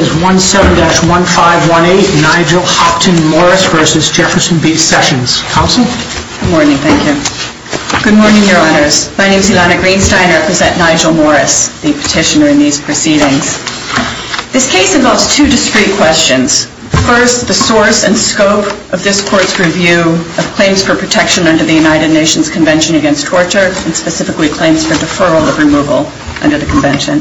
17-1518, Nigel Hopton Morris v. Jefferson B. Sessions. Counsel? Good morning, thank you. Good morning, Your Honors. My name is Ilana Greenstein. I represent Nigel Morris, the petitioner in these proceedings. This case involves two discrete questions. First, the source and scope of this Court's review of claims for protection under the United Nations Convention Against Torture, and specifically claims for deferral of removal under the Convention.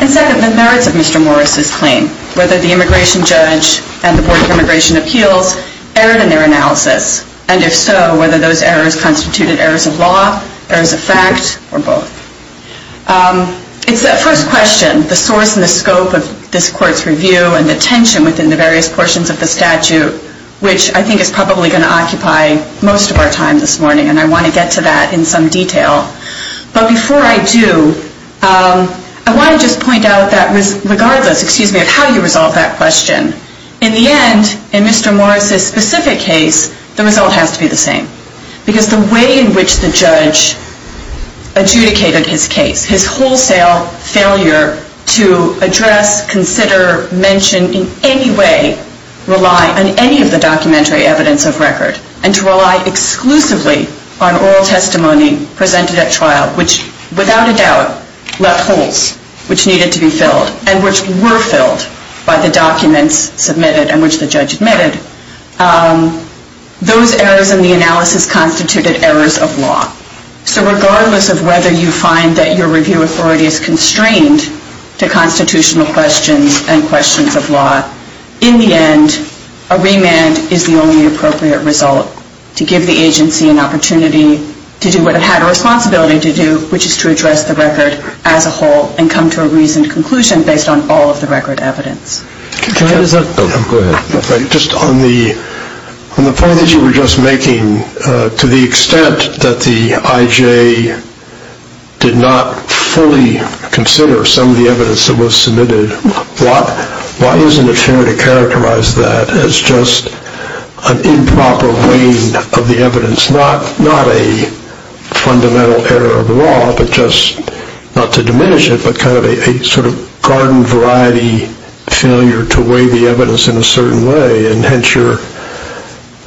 And second, the merits of Mr. Morris's claim, whether the immigration judge and the Board of Immigration Appeals erred in their analysis, and if so, whether those errors constituted errors of law, errors of fact, or both. It's that first question, the source and the scope of this Court's review and the tension within the various portions of the statute, which I think is probably going to occupy most of our time this morning, and I want to get to that in some detail. But before I do, I want to just point out that regardless, excuse me, of how you resolve that question, in the end, in Mr. Morris's specific case, the result has to be the same. Because the way in which the judge adjudicated his case, his wholesale failure to address, consider, mention in any way, rely on any of the documentary evidence of record, and to rely exclusively on oral testimony presented at trial, which without a doubt left holes which needed to be filled and which were filled by the documents submitted and which the judge admitted, those errors in the analysis constituted errors of law. So regardless of whether you find that your review authority is constrained to constitutional questions and questions of law, in the end, a remand is the only appropriate result to give the agency an opportunity to do what it had a responsibility to do, which is to address the record as a whole and come to a reasoned conclusion based on all of the record evidence. Go ahead. Just on the point that you were just making, to the extent that the IJ did not fully consider some of the evidence that was submitted, why isn't it fair to characterize that as just an improper weighing of the evidence, not a fundamental error of the law, but just not to diminish it, but kind of a sort of garden variety failure to weigh the evidence in a certain way, and hence your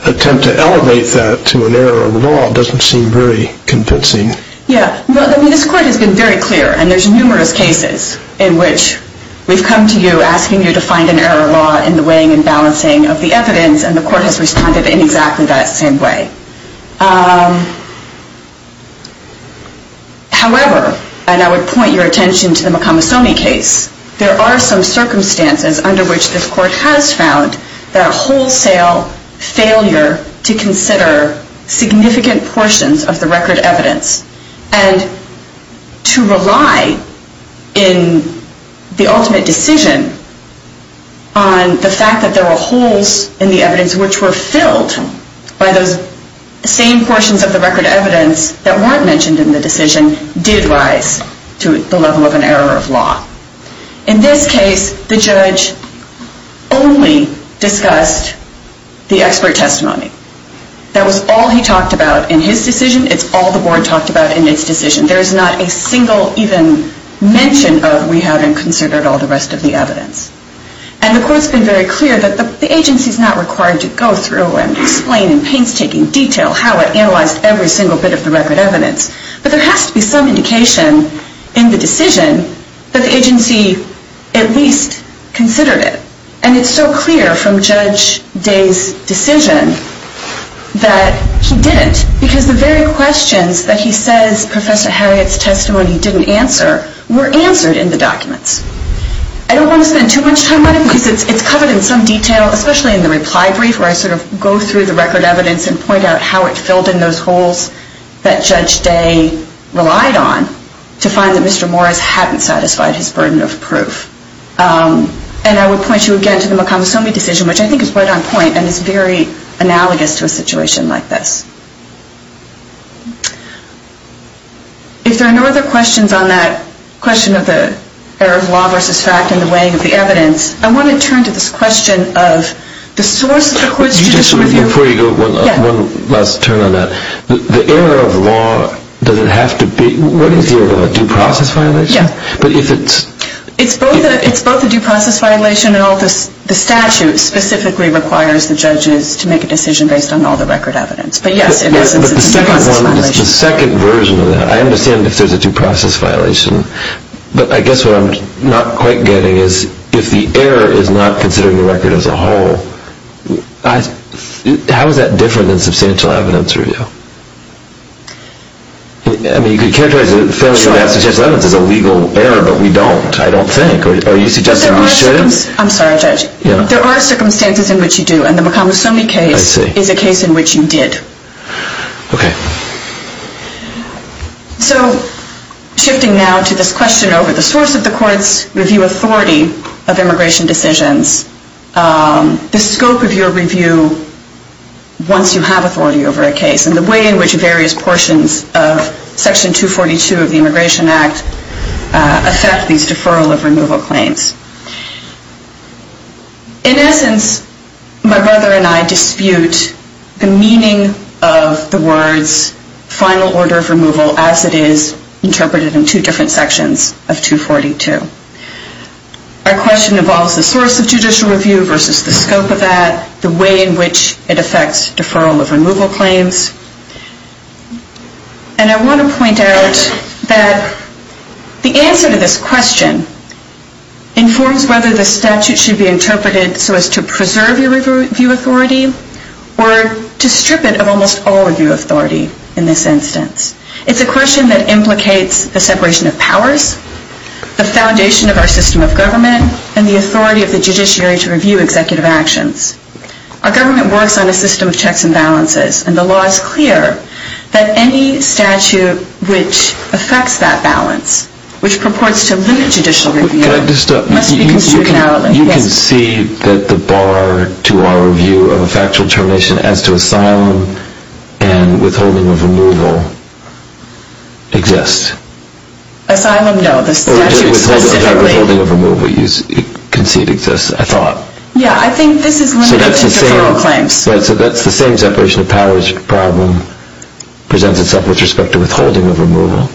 attempt to elevate that to an error of the law doesn't seem very convincing. Yeah. I mean, this court has been very clear, and there's numerous cases in which we've come to you asking you to find an error of law in the weighing and balancing of the evidence, and the court has responded in exactly that same way. However, and I would point your attention to the McComasone case, there are some circumstances under which this court has found that a wholesale failure to consider significant portions of the record evidence and to rely in the ultimate decision on the fact that there were errors in the evidence which were filled by those same portions of the record evidence that weren't mentioned in the decision did rise to the level of an error of law. In this case, the judge only discussed the expert testimony. That was all he talked about in his decision. It's all the board talked about in its decision. There's not a single even mention of we haven't considered all the rest of the evidence. And the court's been very clear that the agency's not required to go through and explain in painstaking detail how it analyzed every single bit of the record evidence, but there has to be some indication in the decision that the agency at least considered it. And it's so clear from Judge Day's decision that he didn't, because the very questions that he says Professor Harriet's testimony didn't answer were answered in the documents. I don't want to spend too much time on it because it's covered in some detail, especially in the reply brief where I sort of go through the record evidence and point out how it filled in those holes that Judge Day relied on to find that Mr. Morris hadn't satisfied his burden of proof. And I would point you again to the McComasomi decision, which I think is right on point and is very analogous to a situation like this. If there are no other questions on that question of the error of law versus fact in the weighing of the evidence, I want to turn to this question of the source of the question. Before you go, one last turn on that. The error of law, does it have to be, what is the error of law? Due process violation? Yeah. But if it's... It's both a due process violation and the statute specifically requires the judges to make a decision based on all the record evidence. But yes, in essence, it's a due process violation. But the second one, the second version of that, I understand if there's a due process violation, but I guess what I'm not quite getting is if the error is not considering the record as a whole, how is that different than substantial evidence review? I mean, you could characterize the failure to answer substantial evidence as a legal error, but we don't. I don't think. Are you suggesting we shouldn't? I'm sorry, Judge. Yeah. There are circumstances in which you do. And the McComasomi case is a case in which you did. Okay. So shifting now to this question over the source of the court's review authority of immigration decisions, the scope of your review once you have authority over a case and the way in which various portions of Section 242 of the Immigration Act affect these deferral of removal claims. In essence, my brother and I dispute the meaning of the words final order of removal as it is interpreted in two different sections of 242. Our question involves the source of judicial review versus the scope of that, the way in which it affects deferral of removal claims. And I want to point out that the answer to this question informs whether the statute should be interpreted so as to preserve your review authority or to strip it of almost all review authority in this instance. It's a question that implicates the separation of powers, the foundation of our system of government, and the authority of the judiciary to review executive actions. Our government works on a system of checks and balances and the law is clear that any statute which affects that balance, which purports to limit judicial review, must be construed narrowly. You can see that the bar to our view of a factual termination as to asylum and withholding of removal exists. Asylum, no. The statute specifically. Withholding of removal, you can see it exists, I thought. Yeah, I think this is limited to deferral claims. So that's the same separation of powers problem presents itself with respect to withholding of removal.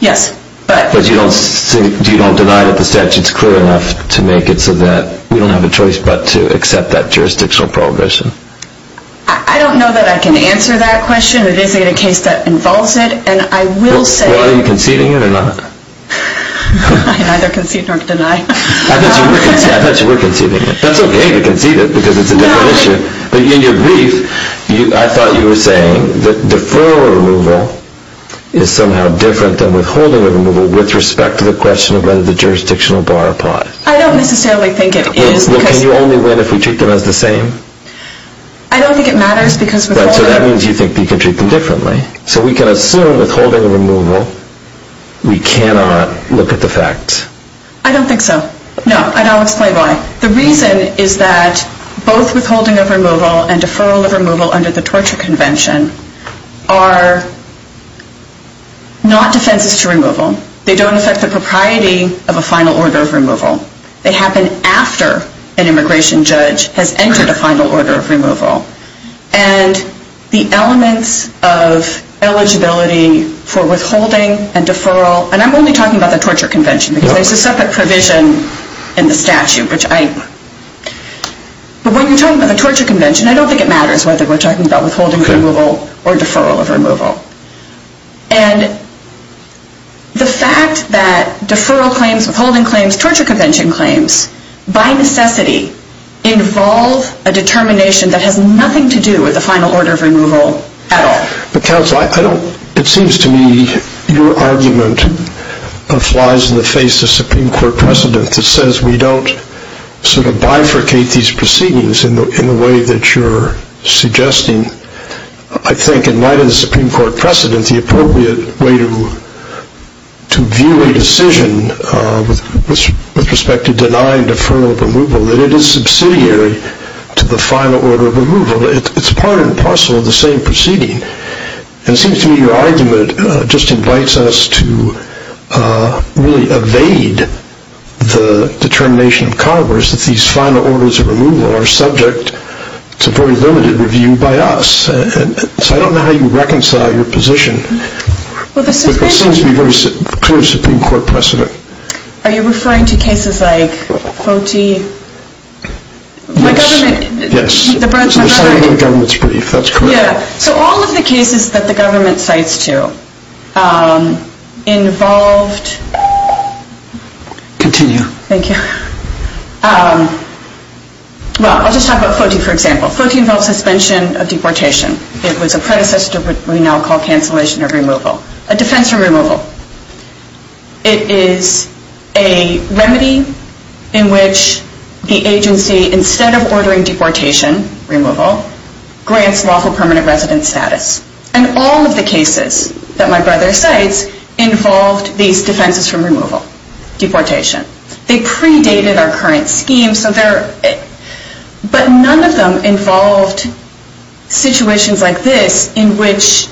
Yes, but... But you don't deny that the statute is clear enough to make it so that we don't have a choice but to accept that jurisdictional prohibition. I don't know that I can answer that question. It is a case that involves it, and I will say... Well, are you conceding it or not? I neither concede nor deny. I thought you were conceding it. That's okay to concede it because it's a different issue. But in your brief, I thought you were saying that deferral of removal is somehow different than withholding of removal with respect to the question of whether the jurisdictional bar applies. I don't necessarily think it is because... Well, can you only win if we treat them as the same? I don't think it matters because withholding... Right, so that means you think you can treat them differently. So we can assume withholding of removal, we cannot look at the facts. I don't think so. No, and I'll explain why. The reason is that both withholding of removal and deferral of removal under the Torture Convention are not defenses to removal. They don't affect the propriety of a final order of removal. They happen after an immigration judge has entered a final order of removal. And the elements of eligibility for withholding and deferral... And I'm only talking about the Torture Convention because there's a separate provision in the statute which I... But when you're talking about the Torture Convention, I don't think it matters whether we're talking about withholding of removal or deferral of removal. And the fact that deferral claims, withholding claims, torture convention claims by necessity involve a determination that has nothing to do with the final order of removal at all. But counsel, I don't... It seems to me your argument flies in the face of Supreme Court precedent that says we don't sort of bifurcate these proceedings in the way that you're suggesting. I think, in light of the Supreme Court precedent, the appropriate way to view a decision with respect to denying deferral of removal, it's part and parcel of the same proceeding. And it seems to me your argument just invites us to really evade the determination of Congress that these final orders of removal are subject to very limited review by us. So I don't know how you reconcile your position. But there seems to be very clear Supreme Court precedent. Are you referring to cases like FOTI? Yes. My government... Yes. So the government's brief. That's correct. Yeah. So all of the cases that the government cites to involved... Continue. Thank you. Well, I'll just talk about FOTI, for example. FOTI involves suspension of deportation. It was a predecessor to what we now call cancellation of removal. A defense from removal. It is a remedy in which the agency, instead of ordering deportation removal, grants lawful permanent residence status. And all of the cases that my brother cites involved these defenses from removal. Deportation. They predated our current scheme. But none of them involved situations like this in which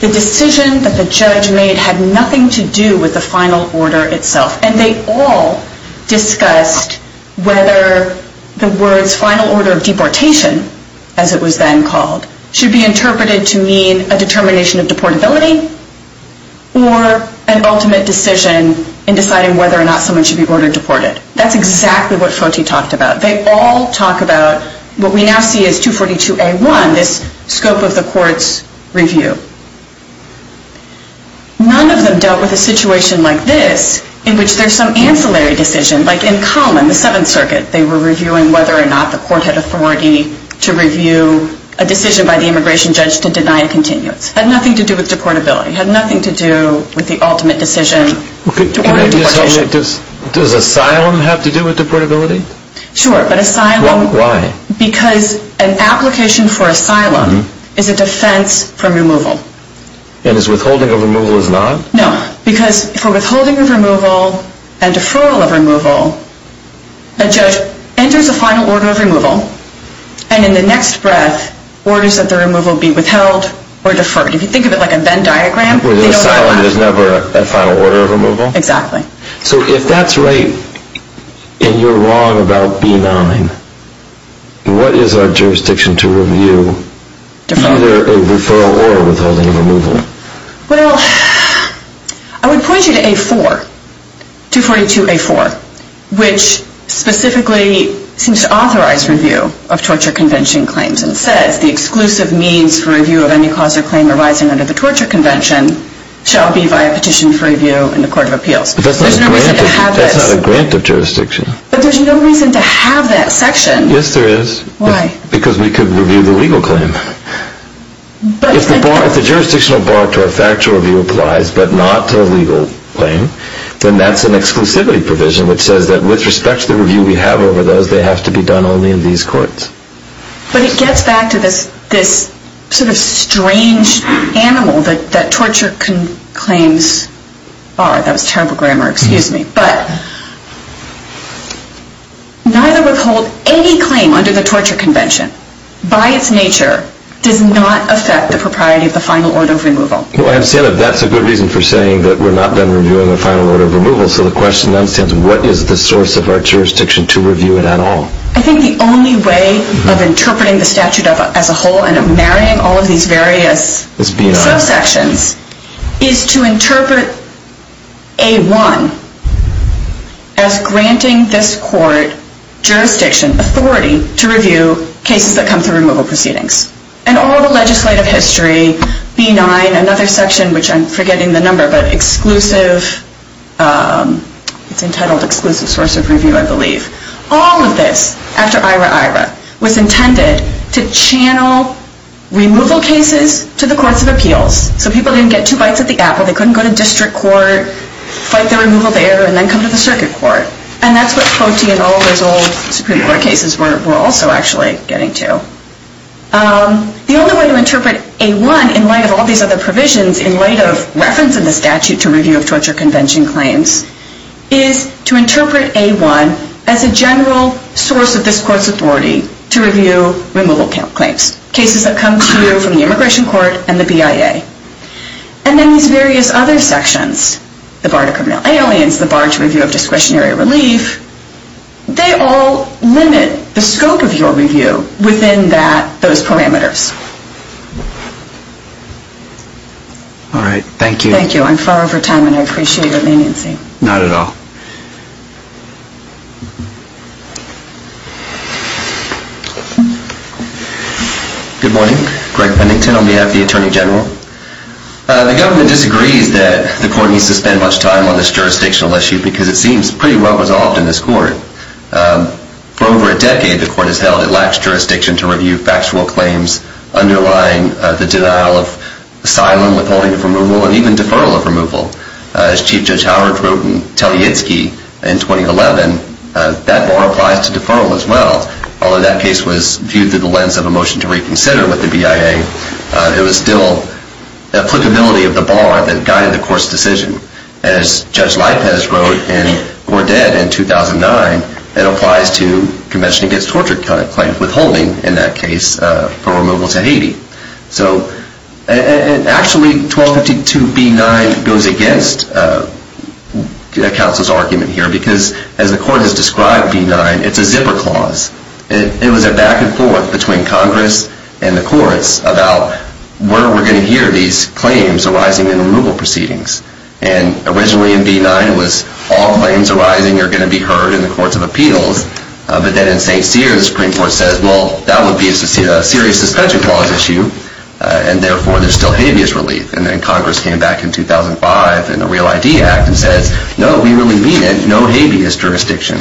the decision that the judge made had nothing to do with the final order itself. And they all discussed whether the words final order of deportation, as it was then called, should be interpreted to mean a determination of deportability or an ultimate decision in deciding whether or not someone should be ordered deported. That's exactly what FOTI talked about. They all talk about what we now see as 242A1, this scope of the court's review. None of them dealt with a situation like this in which there's some ancillary decision. Like in Common, the Seventh Circuit, they were reviewing whether or not the court had authority to review a decision by the immigration judge to deny a continuance. It had nothing to do with deportability. It had nothing to do with the ultimate decision to order deportation. Does asylum have to do with deportability? Sure, but asylum... Why? Because an application for asylum is a defense from removal. And is withholding of removal is not? No, because for withholding of removal and deferral of removal, a judge enters a final order of removal and in the next breath orders that the removal be withheld or deferred. If you think of it like a Venn diagram... Where the asylum is never a final order of removal? Exactly. So if that's right and you're wrong about B9, what is our jurisdiction to review either a referral or withholding of removal? Well, I would point you to A4, 242A4, which specifically seems to authorize review of torture convention claims and says the exclusive means for review of any cause or claim arising under the torture convention shall be via petition for review in the Court of Appeals. But that's not a grant of jurisdiction. But there's no reason to have that section. Yes, there is. Why? Because we could review the legal claim. If the jurisdictional bar to a factual review applies but not to a legal claim, then that's an exclusivity provision which says that with respect to the review we have over those, they have to be done only in these courts. But it gets back to this sort of strange animal that torture claims are. That was terrible grammar. Excuse me. But neither withhold any claim under the torture convention by its nature does not affect the propriety of the final order of removal. Well, I understand that that's a good reason for saying that we're not done reviewing the final order of removal. So the question then stands, what is the source of our jurisdiction to review it at all? I think the only way of interpreting the statute as a whole and of marrying all of these various sections is to interpret A1 as granting this court jurisdiction, authority, to review cases that come through removal proceedings. And all the legislative history, B9, another section, which I'm forgetting the number, but it's entitled Exclusive Source of Review, I believe. All of this, after Ira-Ira, was intended to channel removal cases to the courts of appeals so people didn't get two bites at the apple, they couldn't go to district court, fight the removal there, and then come to the circuit court. And that's what Cote and all those old Supreme Court cases were also actually getting to. The only way to interpret A1 in light of all these other provisions in light of reference in the statute to review of torture convention claims is to interpret A1 as a general source of this court's authority to review removal claims, cases that come to you from the immigration court and the BIA. And then these various other sections, the bar to criminal aliens, the bar to review of discretionary relief, they all limit the scope of your review within those parameters. All right. Thank you. Thank you. I'm far over time, and I appreciate your leniency. Not at all. Good morning. Greg Pennington on behalf of the Attorney General. The government disagrees that the court needs to spend much time on this jurisdictional issue because it seems pretty well resolved in this court. For over a decade, the court has held it lacks jurisdiction to review factual claims underlying the denial of asylum, withholding of removal, and even deferral of removal. As Chief Judge Howard wrote in Telitzky in 2011, that bar applies to deferral as well. Although that case was viewed through the lens of a motion to reconsider with the BIA, it was still applicability of the bar that guided the court's decision. As Judge Lipez wrote in Gordette in 2009, it applies to Convention Against Torture claims, withholding in that case for removal to Haiti. Actually, 1252B9 goes against counsel's argument here because as the court has described B9, it's a zipper clause. It was a back and forth between Congress and the courts about where we're going to hear these claims arising in removal proceedings. Originally in B9, it was all claims arising are going to be heard in the courts of appeals. But then in St. Cyr, the Supreme Court says, well, that would be a serious suspension clause issue, and therefore there's still habeas relief. And then Congress came back in 2005 in the Real ID Act and says, no, we really mean it, no habeas jurisdiction.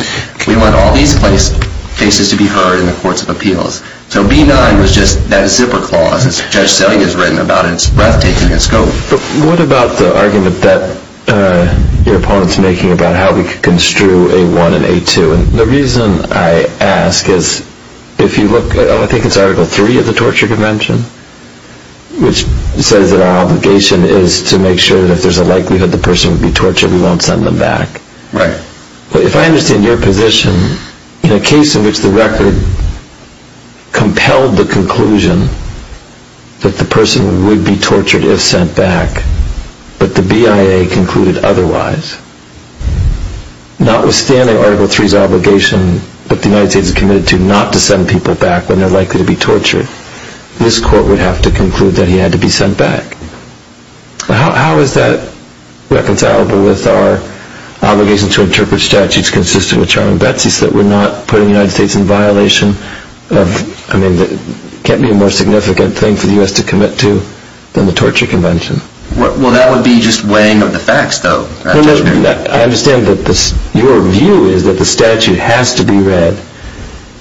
We want all these cases to be heard in the courts of appeals. So B9 was just that zipper clause, as Judge Selling has written about it, it's breathtaking in scope. But what about the argument that your opponent's making about how we could construe A1 and A2? The reason I ask is if you look at Article 3 of the Torture Convention, which says that our obligation is to make sure that if there's a likelihood the person would be tortured, we won't send them back. If I understand your position, in a case in which the record compelled the conclusion that the person would be tortured if sent back, but the BIA concluded otherwise, notwithstanding Article 3's obligation that the United States is committed to not to send people back when they're likely to be tortured, this court would have to conclude that he had to be sent back. How is that reconcilable with our obligation to interpret statutes consistent with Charles Betsy's that we're not putting the United States in violation of, I mean, it can't be a more significant thing for the U.S. to commit to than the Torture Convention. Well, that would be just weighing up the facts, though. I understand that your view is that the statute has to be read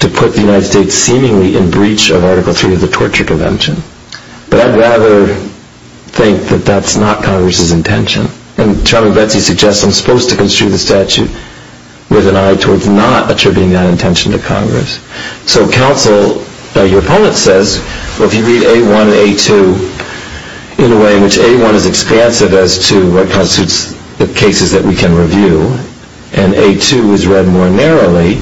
to put the United States seemingly in breach of Article 3 of the Torture Convention. But I'd rather think that that's not Congress's intention. And Charles Betsy suggests I'm supposed to construe the statute with an eye towards not attributing that intention to Congress. So counsel, your opponent says, well, if you read A1 and A2 in a way in which A1 is expansive as to what constitutes the cases that we can review and A2 is read more narrowly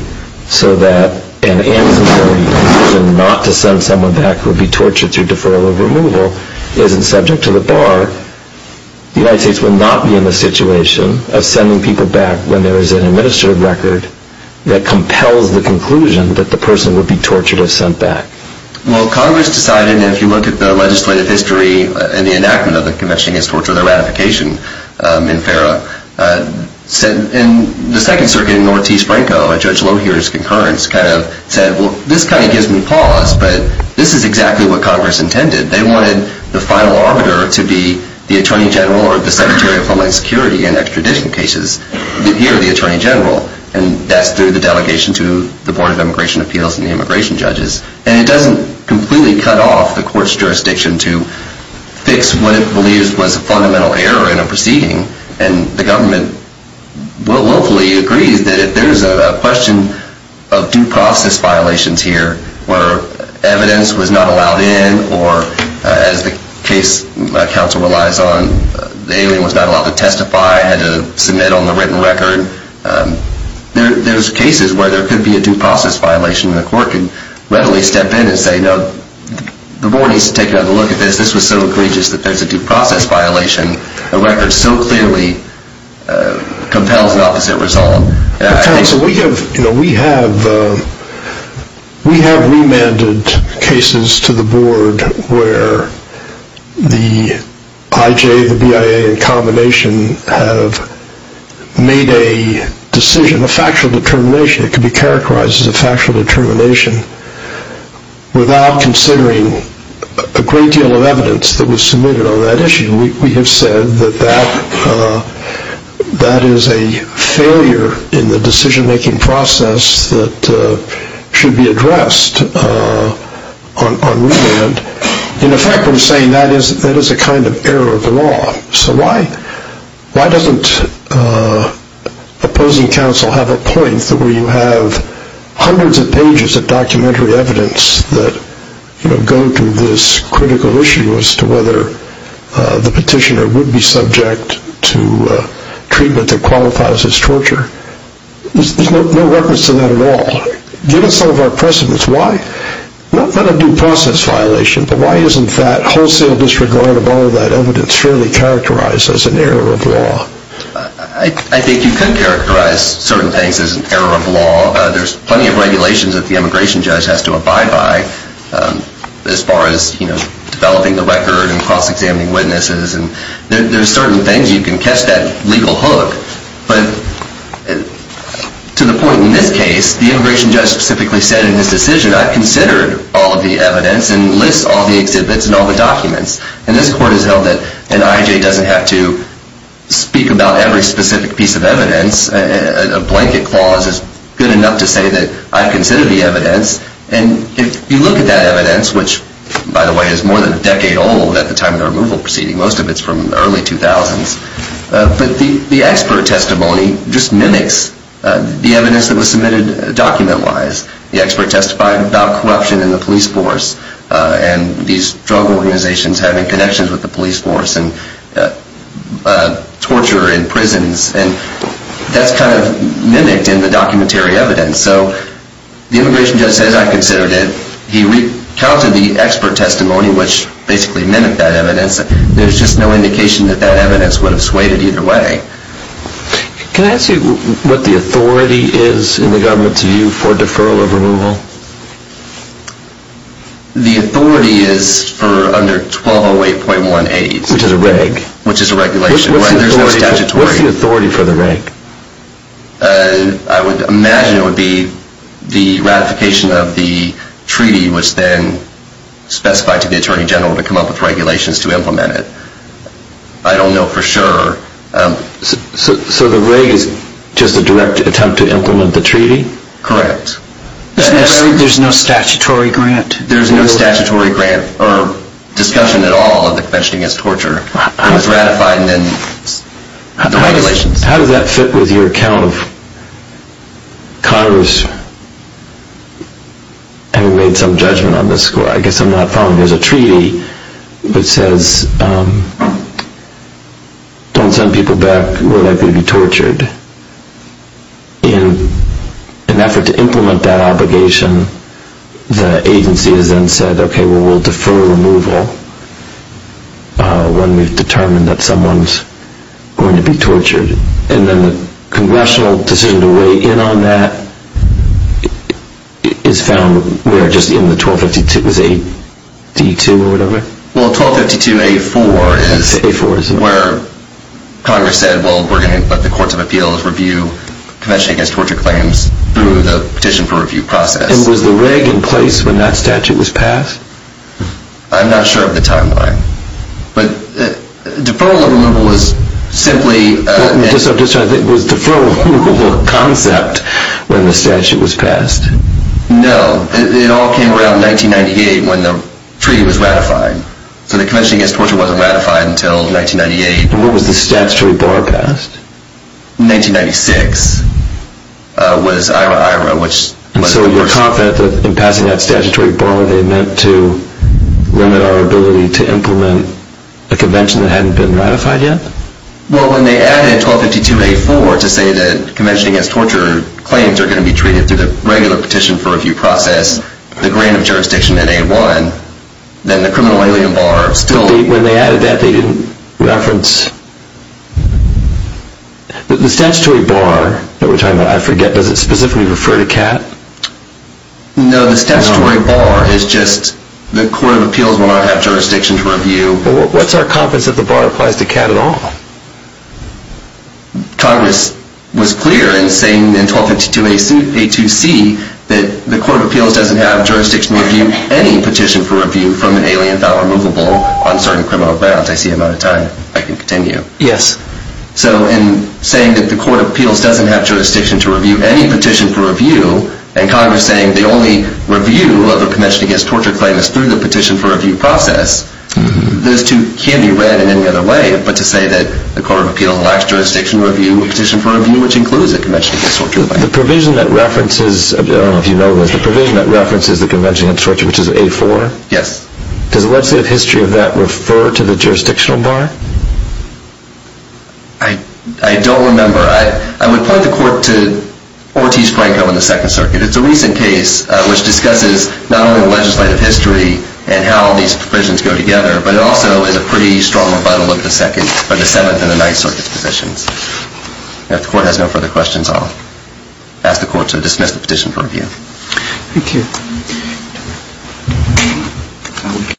so that an ancillary decision not to send someone back would be tortured through deferral of removal isn't subject to the bar, the United States would not be in the situation of sending people back when there is an administrative record that compels the conclusion that the person would be tortured if sent back. Well, Congress decided, and if you look at the legislative history and the enactment of the Convention Against Torture, the ratification in FERA, in the Second Circuit in Ortiz-Franco, Judge Lohear's concurrence kind of said, well, this kind of gives me pause, but this is exactly what Congress intended. They wanted the final arbiter to be the Attorney General or the Secretary of Homeland Security in extradition cases. Here, the Attorney General, and that's through the delegation to the Board of Immigration Appeals and the immigration judges. And it doesn't completely cut off the court's jurisdiction to fix what it believes was a fundamental error in a proceeding, and the government willfully agrees that if there is a question of due process violations here where evidence was not allowed in or, as the case counsel relies on, the alien was not allowed to testify, had to submit on the written record, there's cases where there could be the Board needs to take another look at this. This was so egregious that there's a due process violation, a record so clearly compels an opposite resolve. We have remanded cases to the Board where the IJ, the BIA, and combination have made a decision, a factual determination. It could be characterized as a factual determination without considering a great deal of evidence that was submitted on that issue. We have said that that is a failure in the decision-making process that should be addressed on remand. In effect, we're saying that is a kind of error of the law. So why doesn't opposing counsel have a point where you have hundreds of pages of documentary evidence that go to this critical issue as to whether the petitioner would be subject to treatment that qualifies as torture? There's no reference to that at all. Given some of our precedents, why? Not a due process violation, but why isn't that wholesale disregard of all of that evidence fairly characterized as an error of law? I think you could characterize certain things as an error of law. There's plenty of regulations that the immigration judge has to abide by as far as developing the record and cross-examining witnesses. There are certain things you can catch that legal hook. But to the point in this case, the immigration judge specifically said in his decision, I've considered all of the evidence and lists all the exhibits and all the documents. And this court has held that an IJ doesn't have to speak about every specific piece of evidence. A blanket clause is good enough to say that I've considered the evidence. And if you look at that evidence, which, by the way, is more than a decade old at the time of the removal proceeding. Most of it's from the early 2000s. But the expert testimony just mimics the evidence that was submitted document-wise. The expert testified about corruption in the police force and these drug organizations having connections with the police force and torture in prisons. And that's kind of mimicked in the documentary evidence. So the immigration judge says, I considered it. He recounted the expert testimony, which basically mimicked that evidence. There's just no indication that that evidence would have swayed it either way. Can I ask you what the authority is in the government's view for deferral of removal? The authority is for under 1208.1A. Which is a reg. Which is a regulation. There's no statutory. What's the authority for the reg? I would imagine it would be the ratification of the treaty, which then specified to the Attorney General to come up with regulations to implement it. I don't know for sure. So the reg is just a direct attempt to implement the treaty? Correct. There's no statutory grant? There's no statutory grant or discussion at all of the Convention Against Torture. It was ratified and then the regulations. How does that fit with your account of Congress having made some judgment on this? I guess I'm not following. There was a treaty that says don't send people back who are likely to be tortured. In an effort to implement that obligation, the agency has then said, okay, well, we'll defer removal when we've determined that someone's going to be tortured. And then the congressional decision to weigh in on that is found in the 1252 AD2 or whatever? Well, 1252 AD4 is where Congress said, well, we're going to let the Courts of Appeals review Convention Against Torture claims through the petition for review process. And was the reg in place when that statute was passed? I'm not sure of the timeline. But deferral of removal was simply I'm just trying to think. Was deferral of removal a concept when the statute was passed? No. It all came around 1998 when the treaty was ratified. So the Convention Against Torture wasn't ratified until 1998. And what was the statutory bar passed? 1996 was IRA IRA. And so you're confident that in passing that statutory bar, they meant to limit our ability to implement a convention that hadn't been ratified yet? Well, when they added 1252 AD4 to say that Convention Against Torture claims are going to be treated through the regular petition for review process, the grant of jurisdiction in AD1, then the criminal alien bar still When they added that, they didn't reference The statutory bar that we're talking about, I forget, does it specifically refer to CAT? No, the statutory bar is just the Court of Appeals will not have jurisdiction to review What's our confidence that the bar applies to CAT at all? Congress was clear in saying in 1252 A2C that the Court of Appeals doesn't have jurisdiction to review any petition for review from an alien file removable on certain criminal grounds. I see I'm out of time. I can continue. Yes. So in saying that the Court of Appeals doesn't have jurisdiction to review any petition for review, and Congress saying the only review of a Convention Against Torture claim is through the petition for review process, those two can be read in any other way, but to say that the Court of Appeals lacks jurisdiction to review a petition for review, which includes a Convention Against Torture. The provision that references, I don't know if you know this, the provision that references the Convention Against Torture, which is A4? Yes. Does the legislative history of that refer to the jurisdictional bar? I don't remember. I would point the Court to Ortiz-Franco in the Second Circuit. It's a recent case which discusses not only the legislative history and how these provisions go together, but also is a pretty strong rebuttal of the Seventh and the Ninth Circuit's positions. If the Court has no further questions, I'll ask the Court to dismiss the petition for review. Thank you.